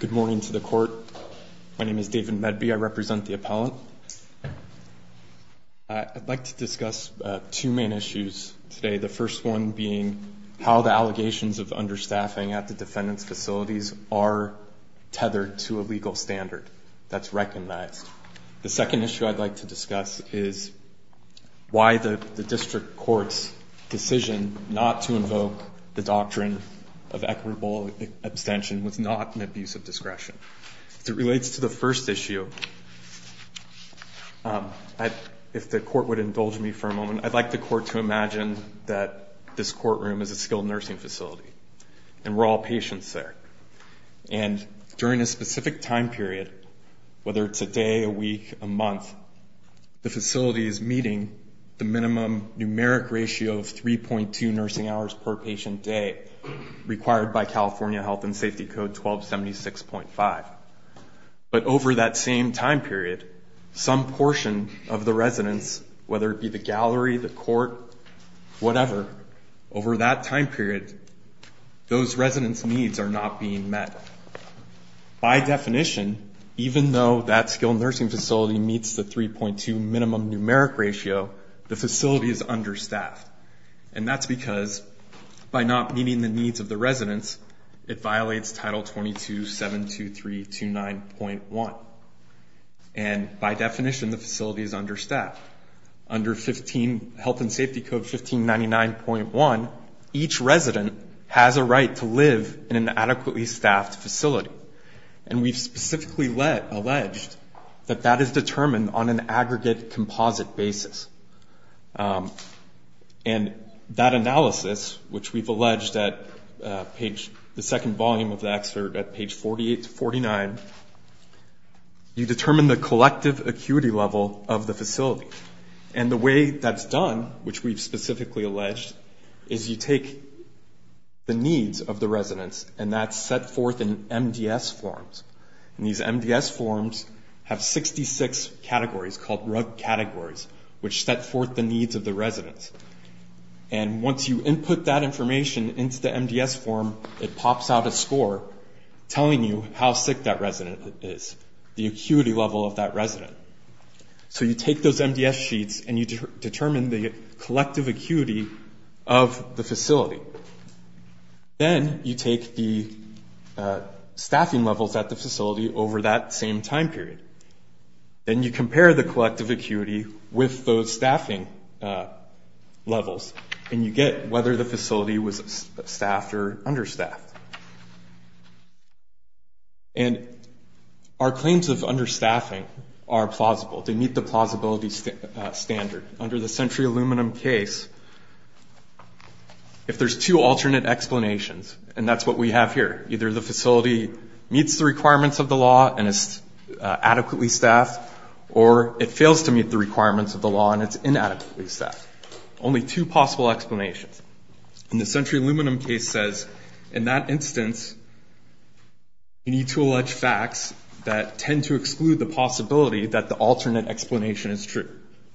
Good morning to the court. My name is David Medby. I represent the appellant. I'd like to discuss two main issues today. The first one being how the allegations of understaffing at the defendant's facilities are tethered to a legal standard that's recognized. The second issue I'd like to discuss is why the district court's decision not to invoke the doctrine of equitable abstention was not an abuse of discretion. As it relates to the first issue, if the court would indulge me for a moment, I'd like the court to imagine that this courtroom is a skilled nursing facility and we're all patients there. And during a specific time period, whether it's a day, a week, a month, the facility is meeting the minimum numeric ratio of 3.2 nursing hours per patient day required by California Health and Safety Code 1276.5. But over that same time period, some portion of the residence, whether it be the gallery, the court, whatever, over that time period, those residents' needs are not being met. By definition, even though that skilled nursing facility meets the 3.2 minimum numeric ratio, the facility is understaffed. And that's because by not meeting the needs of the residents, it violates Title 22-72329.1. And by definition, the facility is understaffed. Under Health and Safety Code 1599.1, each resident has a right to live in an adequately staffed facility. And we've specifically alleged that that is determined on an aggregate composite basis. And that analysis, which we've alleged at the second volume of the excerpt at page 48-49, you determine the collective acuity level of the facility. And the way that's done, which we've specifically alleged, is you take the needs of the residents and that's set forth in MDS forms. And these MDS forms have 66 categories called RUG categories, which set forth the needs of the residents. And once you input that information into the MDS form, it pops out a score telling you how sick that resident is, the acuity level of that resident. So you take those MDS sheets and you determine the collective acuity of the facility. Then you take the staffing levels at the facility over that same time period. Then you compare the collective acuity with those staffing levels, and you get whether the facility was staffed or understaffed. And our claims of understaffing are plausible. They meet the plausibility standard. Under the Century Aluminum case, if there's two alternate explanations, and that's what we have here, either the facility meets the requirements of the law and is adequately staffed, or it fails to meet the requirements of the law and it's inadequately staffed. Only two possible explanations. And the Century Aluminum case says, in that instance, you need to allege facts that tend to exclude the possibility that the alternate explanation is true,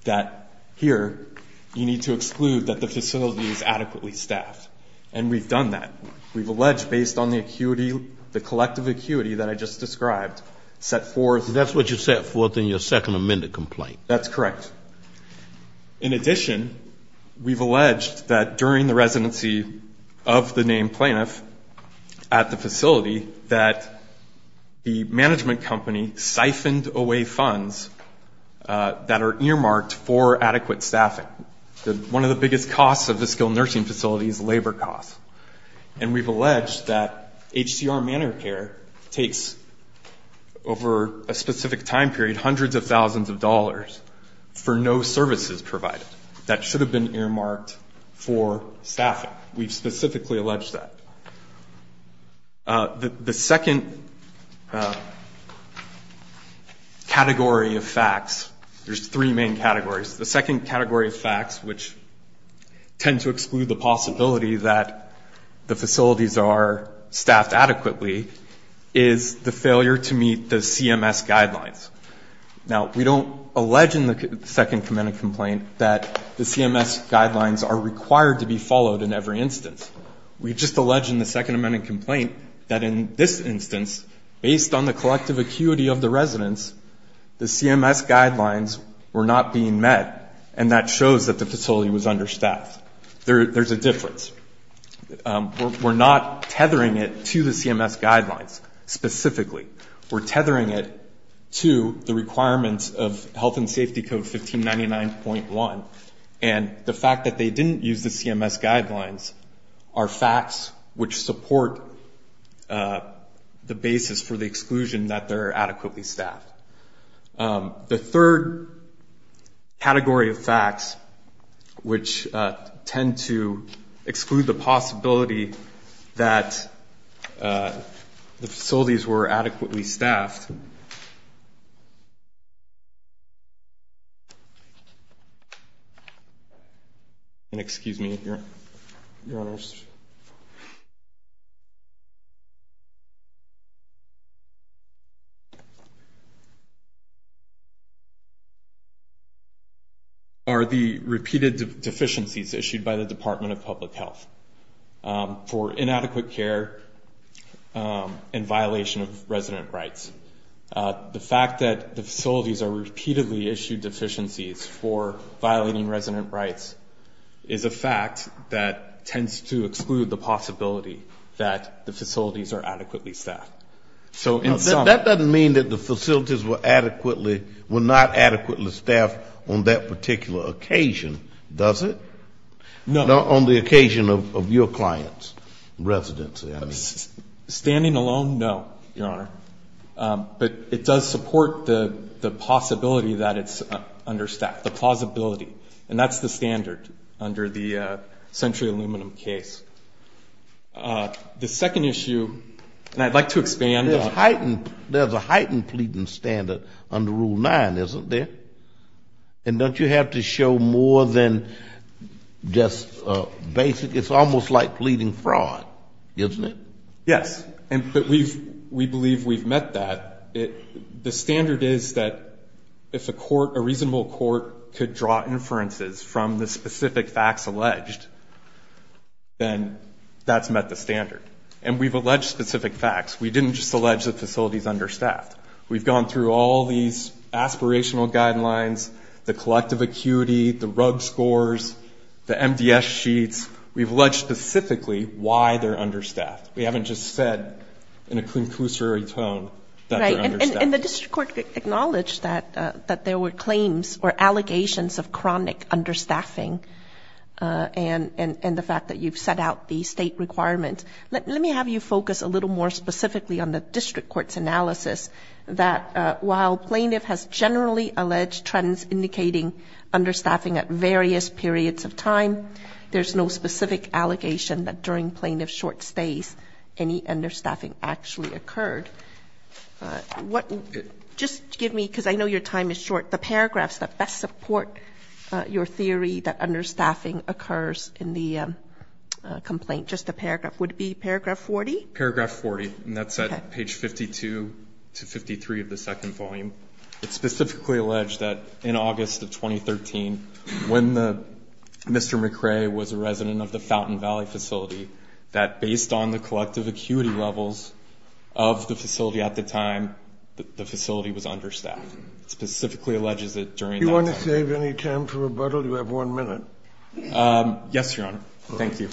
that here you need to exclude that the facility is adequately staffed. And we've done that. We've alleged based on the collective acuity that I just described, set forth. That's what you set forth in your second amended complaint. That's correct. In addition, we've alleged that during the residency of the named plaintiff at the facility, that the management company siphoned away funds that are earmarked for adequate staffing. One of the biggest costs of a skilled nursing facility is labor costs. And we've alleged that HCR Manor Care takes, over a specific time period, hundreds of thousands of dollars for no services provided. That should have been earmarked for staffing. We've specifically alleged that. The second category of facts, there's three main categories. The second category of facts, which tend to exclude the possibility that the facilities are staffed adequately, is the failure to meet the CMS guidelines. Now, we don't allege in the second amended complaint that the CMS guidelines are required to be followed in every instance. We just allege in the second amended complaint that in this instance, based on the collective acuity of the residents, the CMS guidelines were not being met, and that shows that the facility was understaffed. There's a difference. We're not tethering it to the CMS guidelines specifically. We're tethering it to the requirements of Health and Safety Code 1599.1. And the fact that they didn't use the CMS guidelines are facts which support the basis for the exclusion that they're adequately staffed. The third category of facts, which tend to exclude the possibility that the facilities were adequately staffed, and excuse me, Your Honors, are the repeated deficiencies issued by the Department of Public Health for inadequate care and violation of resident rights. The fact that the facilities are repeatedly issued deficiencies for violating resident rights is a fact that tends to exclude the possibility that the facilities are adequately staffed. That doesn't mean that the facilities were adequately, were not adequately staffed on that particular occasion, does it? No. On the occasion of your client's residency. Standing alone, no, Your Honor. But it does support the possibility that it's understaffed, the plausibility. And that's the standard under the Century Aluminum case. The second issue, and I'd like to expand on it. There's a heightened pleading standard under Rule 9, isn't there? And don't you have to show more than just basic, it's almost like pleading fraud, isn't it? Yes, and we believe we've met that. The standard is that if a reasonable court could draw inferences from the specific facts alleged, then that's met the standard. And we've alleged specific facts. We didn't just allege the facilities understaffed. We've gone through all these aspirational guidelines, the collective acuity, the RUG scores, the MDS sheets. We've alleged specifically why they're understaffed. We haven't just said in a conclusory tone that they're understaffed. Right, and the district court acknowledged that there were claims or allegations of chronic understaffing, and the fact that you've set out the state requirement, let me have you focus a little more specifically on the district court's analysis that while plaintiff has generally alleged trends indicating understaffing at various periods of time, there's no specific allegation that during plaintiff's short stays, any understaffing actually occurred. Just give me, because I know your time is short, the paragraphs that best support your theory that understaffing occurs in the complaint. Just the paragraph. Would it be paragraph 40? Paragraph 40, and that's at page 52 to 53 of the second volume. It specifically alleged that in August of 2013, when Mr. McRae was a resident of the Fountain Valley facility, that based on the collective acuity levels of the facility at the time, the facility was understaffed. It specifically alleges that during that time. Do you want to save any time for rebuttal? You have one minute. Yes, Your Honor. Thank you.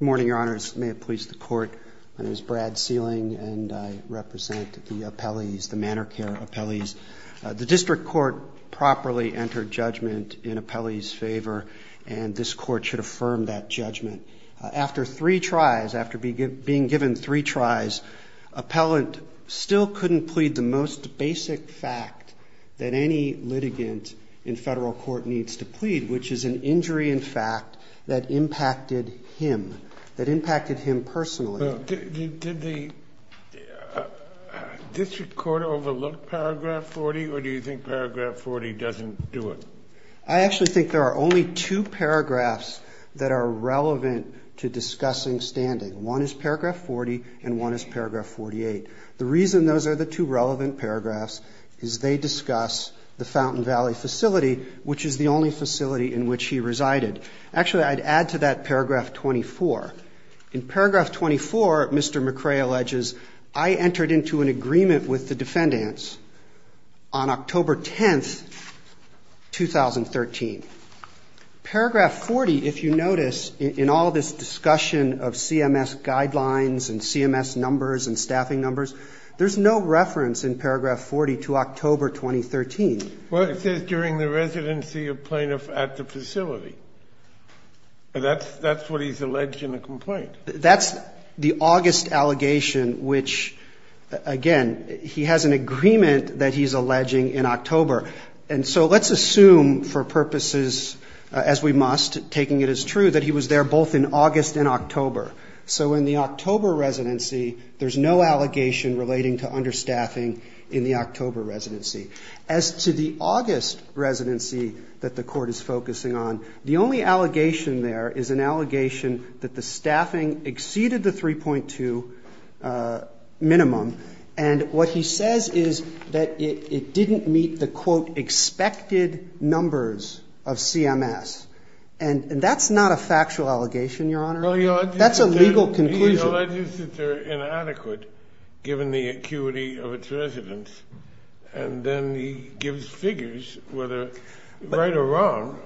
Good morning, Your Honors. May it please the Court. My name is Brad Sealing, and I represent the appellees, the manor care appellees. The district court properly entered judgment in appellees' favor, and this court should affirm that judgment. After three tries, after being given three tries, appellant still couldn't plead the most basic fact that any litigant in federal court needs to plead, which is an injury in fact that impacted him, that impacted him personally. Did the district court overlook Paragraph 40, or do you think Paragraph 40 doesn't do it? I actually think there are only two paragraphs that are relevant to discussing standing. One is Paragraph 40, and one is Paragraph 48. The reason those are the two relevant paragraphs is they discuss the Fountain Valley facility, which is the only facility in which he resided. Actually, I'd add to that Paragraph 24. In Paragraph 24, Mr. McRae alleges, I entered into an agreement with the defendants on October 10, 2013. Paragraph 40, if you notice, in all this discussion of CMS guidelines and CMS numbers and staffing numbers, there's no reference in Paragraph 40 to October 2013. It says during the residency of plaintiff at the facility. That's what he's alleged in the complaint. That's the August allegation, which, again, he has an agreement that he's alleging in October. And so let's assume for purposes, as we must, taking it as true, that he was there both in August and October. So in the October residency. As to the August residency that the Court is focusing on, the only allegation there is an allegation that the staffing exceeded the 3.2 minimum. And what he says is that it didn't meet the, quote, expected numbers of CMS. And that's not a factual allegation, Your Honor. That's a legal conclusion. He alleges that they're inadequate, given the acuity of its residents. And then he gives figures whether right or wrong.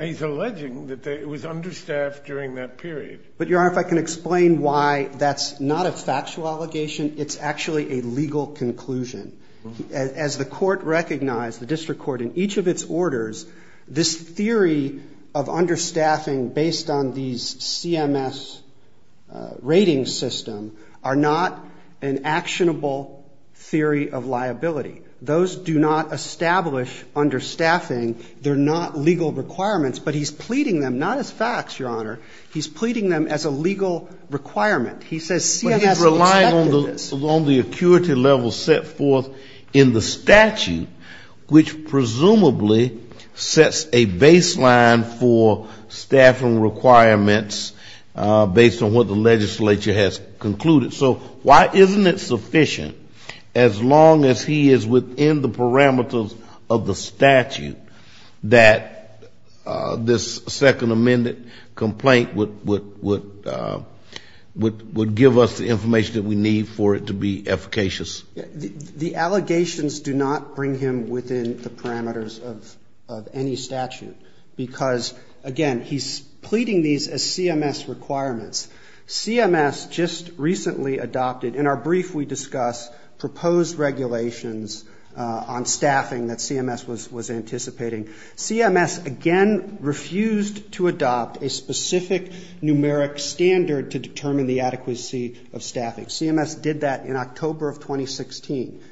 He's alleging that it was understaffed during that period. But, Your Honor, if I can explain why that's not a factual allegation, it's actually a legal conclusion. As the Court recognized, the District Court, in each of its orders, this theory of understaffing based on these CMS rating system are not an actionable theory of liability. Those do not establish understaffing. They're not legal requirements. But he's pleading them, not as facts, Your Honor. He's pleading them as a legal requirement. He says CMS expected this. But he's relying on the acuity level set forth in the statute, which presumably sets a baseline for staffing requirements based on what the legislature has concluded. So why isn't it sufficient, as long as he is within the parameters of the statute, that this second amended complaint would give us the information that we need for it to be efficacious? The allegations do not bring him within the parameters of any statute, because, again, he's pleading these as CMS requirements. CMS just recently adopted, in our brief we discuss, proposed regulations on staffing that CMS was anticipating. CMS, again, refused to adopt a specific numeric standard to determine the adequacy of staffing. CMS did that in October of 2016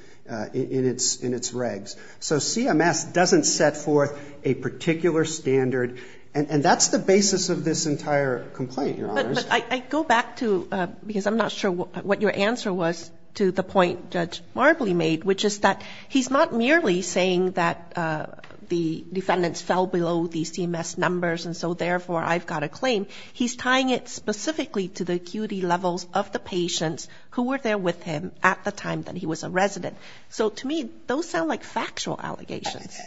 in its regs. So CMS doesn't set forth a particular standard. And that's the basis of this entire complaint, Your Honors. But I go back to, because I'm not sure what your answer was to the point Judge Marbley made, which is that he's not merely saying that the defendants fell below the CMS numbers, and so therefore I've got a claim. He's tying it specifically to the acuity levels of the patients who were there with him at the time that he was a resident. So to me, those sound like factual allegations.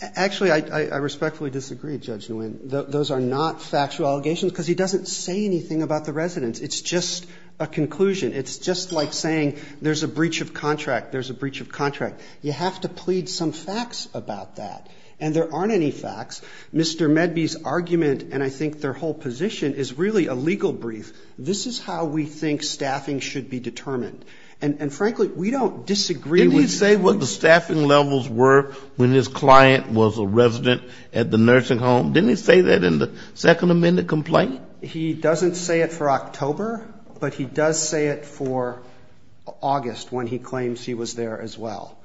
Actually, I respectfully disagree, Judge Nguyen. Those are not factual allegations, because he doesn't say anything about the residents. It's just a conclusion. It's just like saying there's a breach of contract, there's a breach of contract. You have to plead some facts about that. And there aren't any facts. Mr. Medby's argument, and I think their whole position, is really a legal brief. This is how we think staffing should be determined. And frankly, we don't disagree with you. Didn't he say what the staffing levels were when his client was a resident at the nursing home? Didn't he say that in the Second Amendment complaint? He doesn't say it for October, but he does say it for August when he claims he was there as well.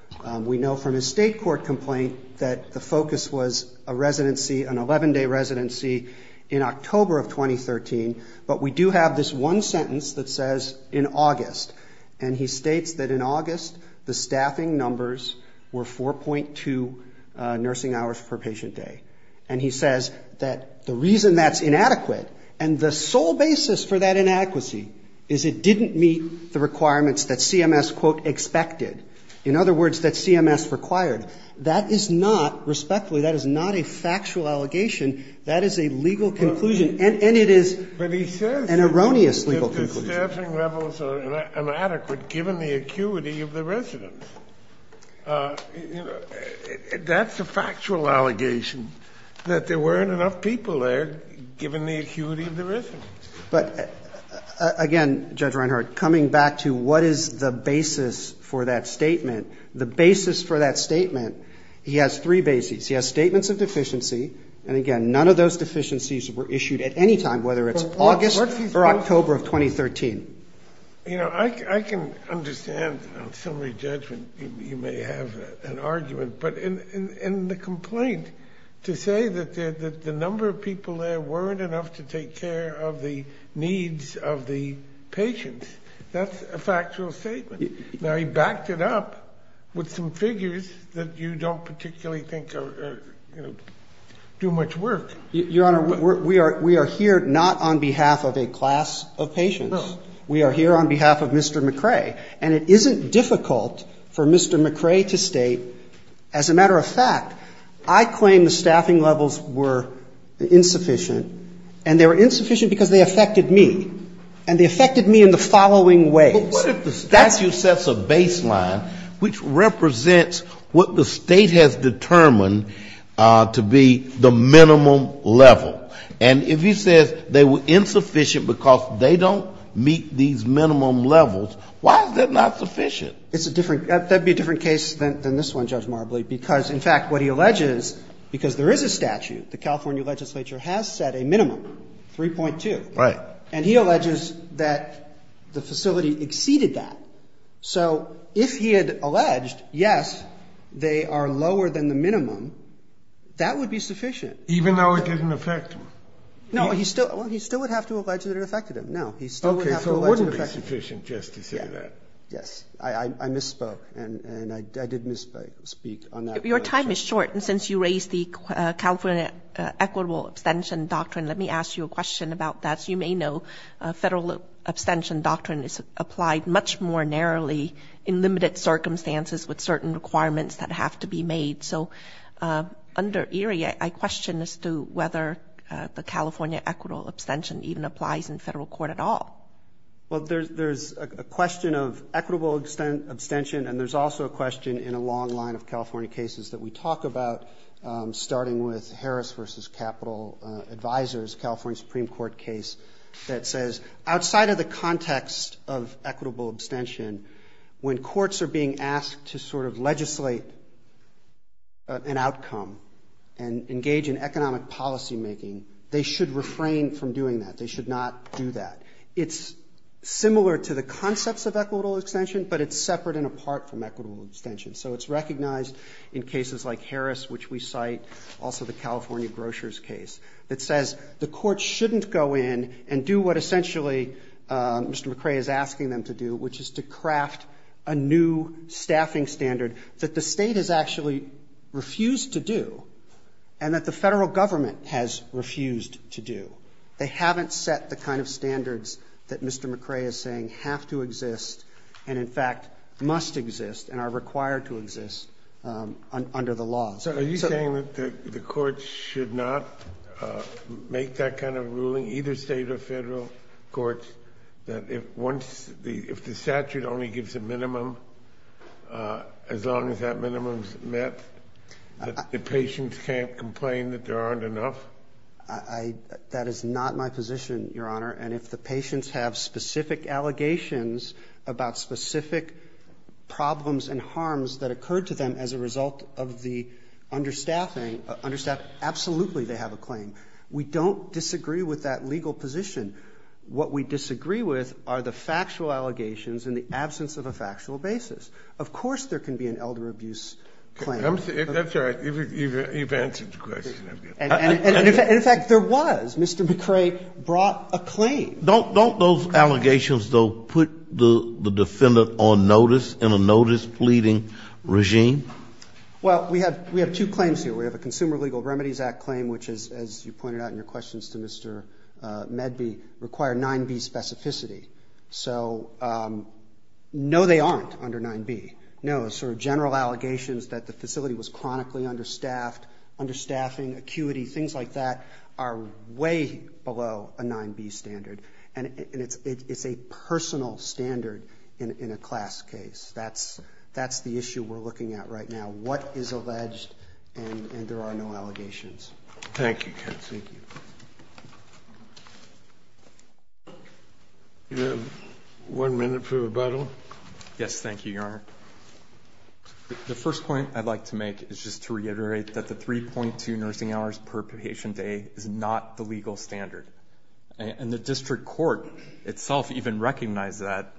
We know from his state court complaint that the focus was a residency, an 11-day residency, in October of 2013. But we do have this one sentence that says, in August. And he states that in August, the staffing numbers were 4.2 nursing hours per patient day. And he says that the reason that's inadequate, and the sole basis for that inadequacy, is it didn't meet the requirements that CMS, quote, expected, in other words, that CMS required. That is not, respectfully, that is not a factual allegation. That is a legal conclusion. And it is an erroneous legal conclusion. But he says that the staffing levels are inadequate given the acuity of the residents. That's a factual allegation, that there weren't enough people there given the acuity of the residents. But, again, Judge Reinhart, coming back to what is the basis for that statement, the basis for that statement, he has three bases. He has statements of deficiency. And, again, none of those deficiencies were issued at any time, whether it's August or October of 2013. You know, I can understand, on summary judgment, you may have an argument. But in the complaint, to say that the number of people there weren't enough to take care of the needs of the patients, that's a factual statement. Now, he backed it up with some figures that you don't particularly think are, you know, do much work. Your Honor, we are here not on behalf of a class of patients. No. We are here on behalf of Mr. McRae. And it isn't difficult for Mr. McRae to state, as a matter of fact, I claim the staffing levels were insufficient. And they were insufficient because they affected me. And they affected me in the following ways. But what if the statute sets a baseline which represents what the State has determined to be the minimum level? And if he says they were insufficient because they don't meet these minimum levels, why is that not sufficient? It's a different – that would be a different case than this one, Judge Marbley, because, in fact, what he alleges, because there is a statute, the California legislature has set a minimum, 3.2. Right. And he alleges that the facility exceeded that. So if he had alleged, yes, they are lower than the minimum, that would be sufficient. Even though it didn't affect him? No. He still would have to allege that it affected him. No. He still would have to allege it affected him. Okay. So it wouldn't be sufficient just to say that. Yes. I misspoke. And I did misspeak on that. Your time is short. And since you raised the California equitable abstention doctrine, let me ask you a question about that. As you may know, federal abstention doctrine is applied much more narrowly in limited circumstances with certain requirements that have to be made. So under Erie, I question as to whether the California equitable abstention even applies in federal court at all. Well, there's a question of equitable abstention, and there's also a question in a long line of California cases that we talk about, starting with Harris v. Capital Advisors, California Supreme Court case, that says outside of the context of equitable abstention, when courts are being asked to sort of legislate an outcome and engage in economic policymaking, they should refrain from doing that. They should not do that. It's similar to the concepts of equitable abstention, but it's separate and apart from equitable abstention. So it's recognized in cases like Harris, which we cite, also the California grocers case, that says the court shouldn't go in and do what essentially Mr. McRae is asking them to do, which is to craft a new staffing standard that the state has actually refused to do and that the federal government has refused to do. They haven't set the kind of standards that Mr. McRae is saying have to exist and, in fact, must exist and are required to exist under the law. So are you saying that the courts should not make that kind of ruling, either state or federal courts, that if once the statute only gives a minimum, as long as that minimum is met, that the patients can't complain that there aren't enough? That is not my position, Your Honor. And if the patients have specific allegations about specific problems and harms that occurred to them as a result of the understaffing, absolutely they have a claim. We don't disagree with that legal position. What we disagree with are the factual allegations in the absence of a factual basis. Of course there can be an elder abuse claim. That's all right. You've answered the question. And, in fact, there was. Mr. McRae brought a claim. Don't those allegations, though, put the defendant on notice in a notice-pleading regime? Well, we have two claims here. We have a Consumer Legal Remedies Act claim, which is, as you pointed out in your questions to Mr. Medby, require 9b specificity. So no, they aren't under 9b. No, sort of general allegations that the facility was chronically understaffed, understaffing, acuity, things like that, are way below a 9b standard. And it's a personal standard in a class case. That's the issue we're looking at right now, what is alleged, and there are no allegations. Thank you, Kent. Thank you. One minute for rebuttal. Yes, thank you, Your Honor. The first point I'd like to make is just to reiterate that the 3.2 nursing hours per patient day is not the legal standard. And the district court itself even recognized that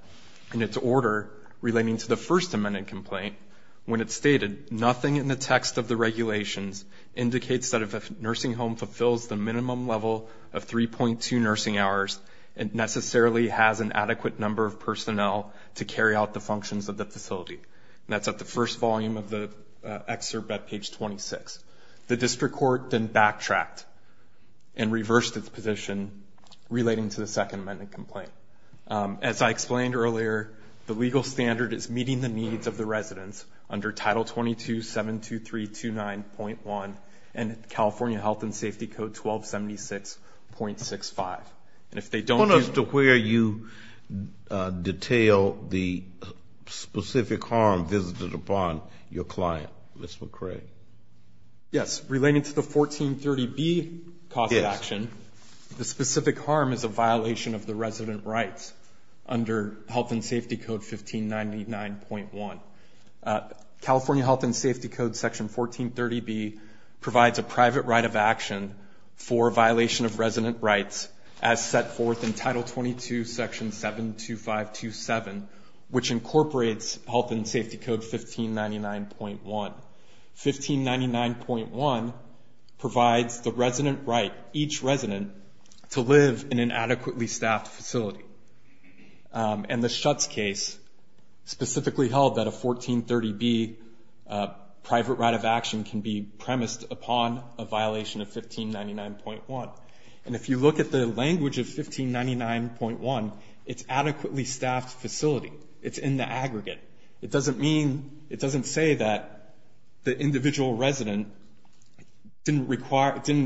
in its order relating to the First Amendment complaint when it stated, nothing in the text of the regulations indicates that if a nursing home fulfills the minimum level of 3.2 nursing hours, it necessarily has an adequate number of personnel to carry out the functions of the facility. And that's at the first volume of the excerpt at page 26. The district court then backtracked and reversed its position relating to the Second Amendment complaint. As I explained earlier, the legal standard is meeting the needs of the residents under Title 22-72329.1 and California Health and Safety Code 1276.65. Bonus to where you detail the specific harm visited upon your client, Mr. McRae. Yes, relating to the 1430B cost of action, the specific harm is a violation of the resident rights under Health and Safety Code 1599.1. California Health and Safety Code Section 1430B provides a private right of action for violation of resident rights as set forth in Title 22 Section 72527, which incorporates Health and Safety Code 1599.1. 1599.1 provides the resident right, each resident, to live in an adequately staffed facility. And the Schutz case specifically held that a 1430B private right of action can be premised upon a violation of 1599.1. And if you look at the language of 1599.1, it's adequately staffed facility. It's in the aggregate. It doesn't mean, it doesn't say that the individual resident didn't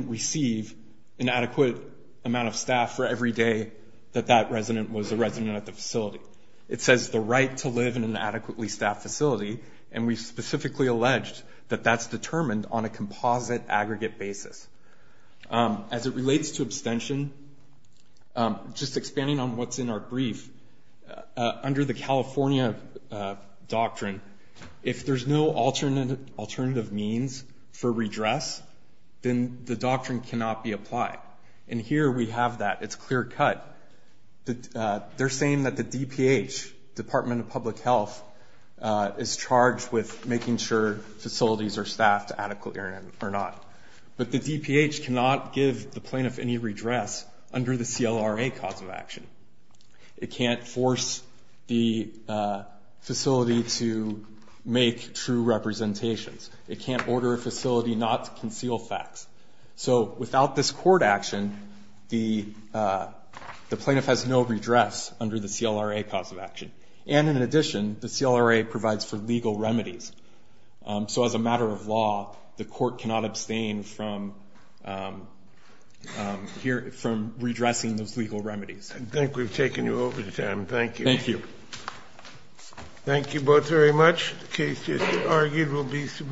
receive an adequate amount of staff for every day that that resident was a resident at the facility. It says the right to live in an adequately staffed facility, and we specifically alleged that that's determined on a composite aggregate basis. As it relates to abstention, just expanding on what's in our brief, under the California doctrine, if there's no alternative means for redress, then the doctrine cannot be applied. And here we have that. It's clear cut. They're saying that the DPH, Department of Public Health, is charged with making sure facilities are staffed adequately or not. But the DPH cannot give the plaintiff any redress under the CLRA cause of action. It can't force the facility to make true representations. It can't order a facility not to conceal facts. So without this court action, the plaintiff has no redress under the CLRA cause of action. And in addition, the CLRA provides for legal remedies. So as a matter of law, the court cannot abstain from redressing those legal remedies. I think we've taken you over, Sam. Thank you. Thank you. Thank you both very much. The case, as you argued, will be submitted.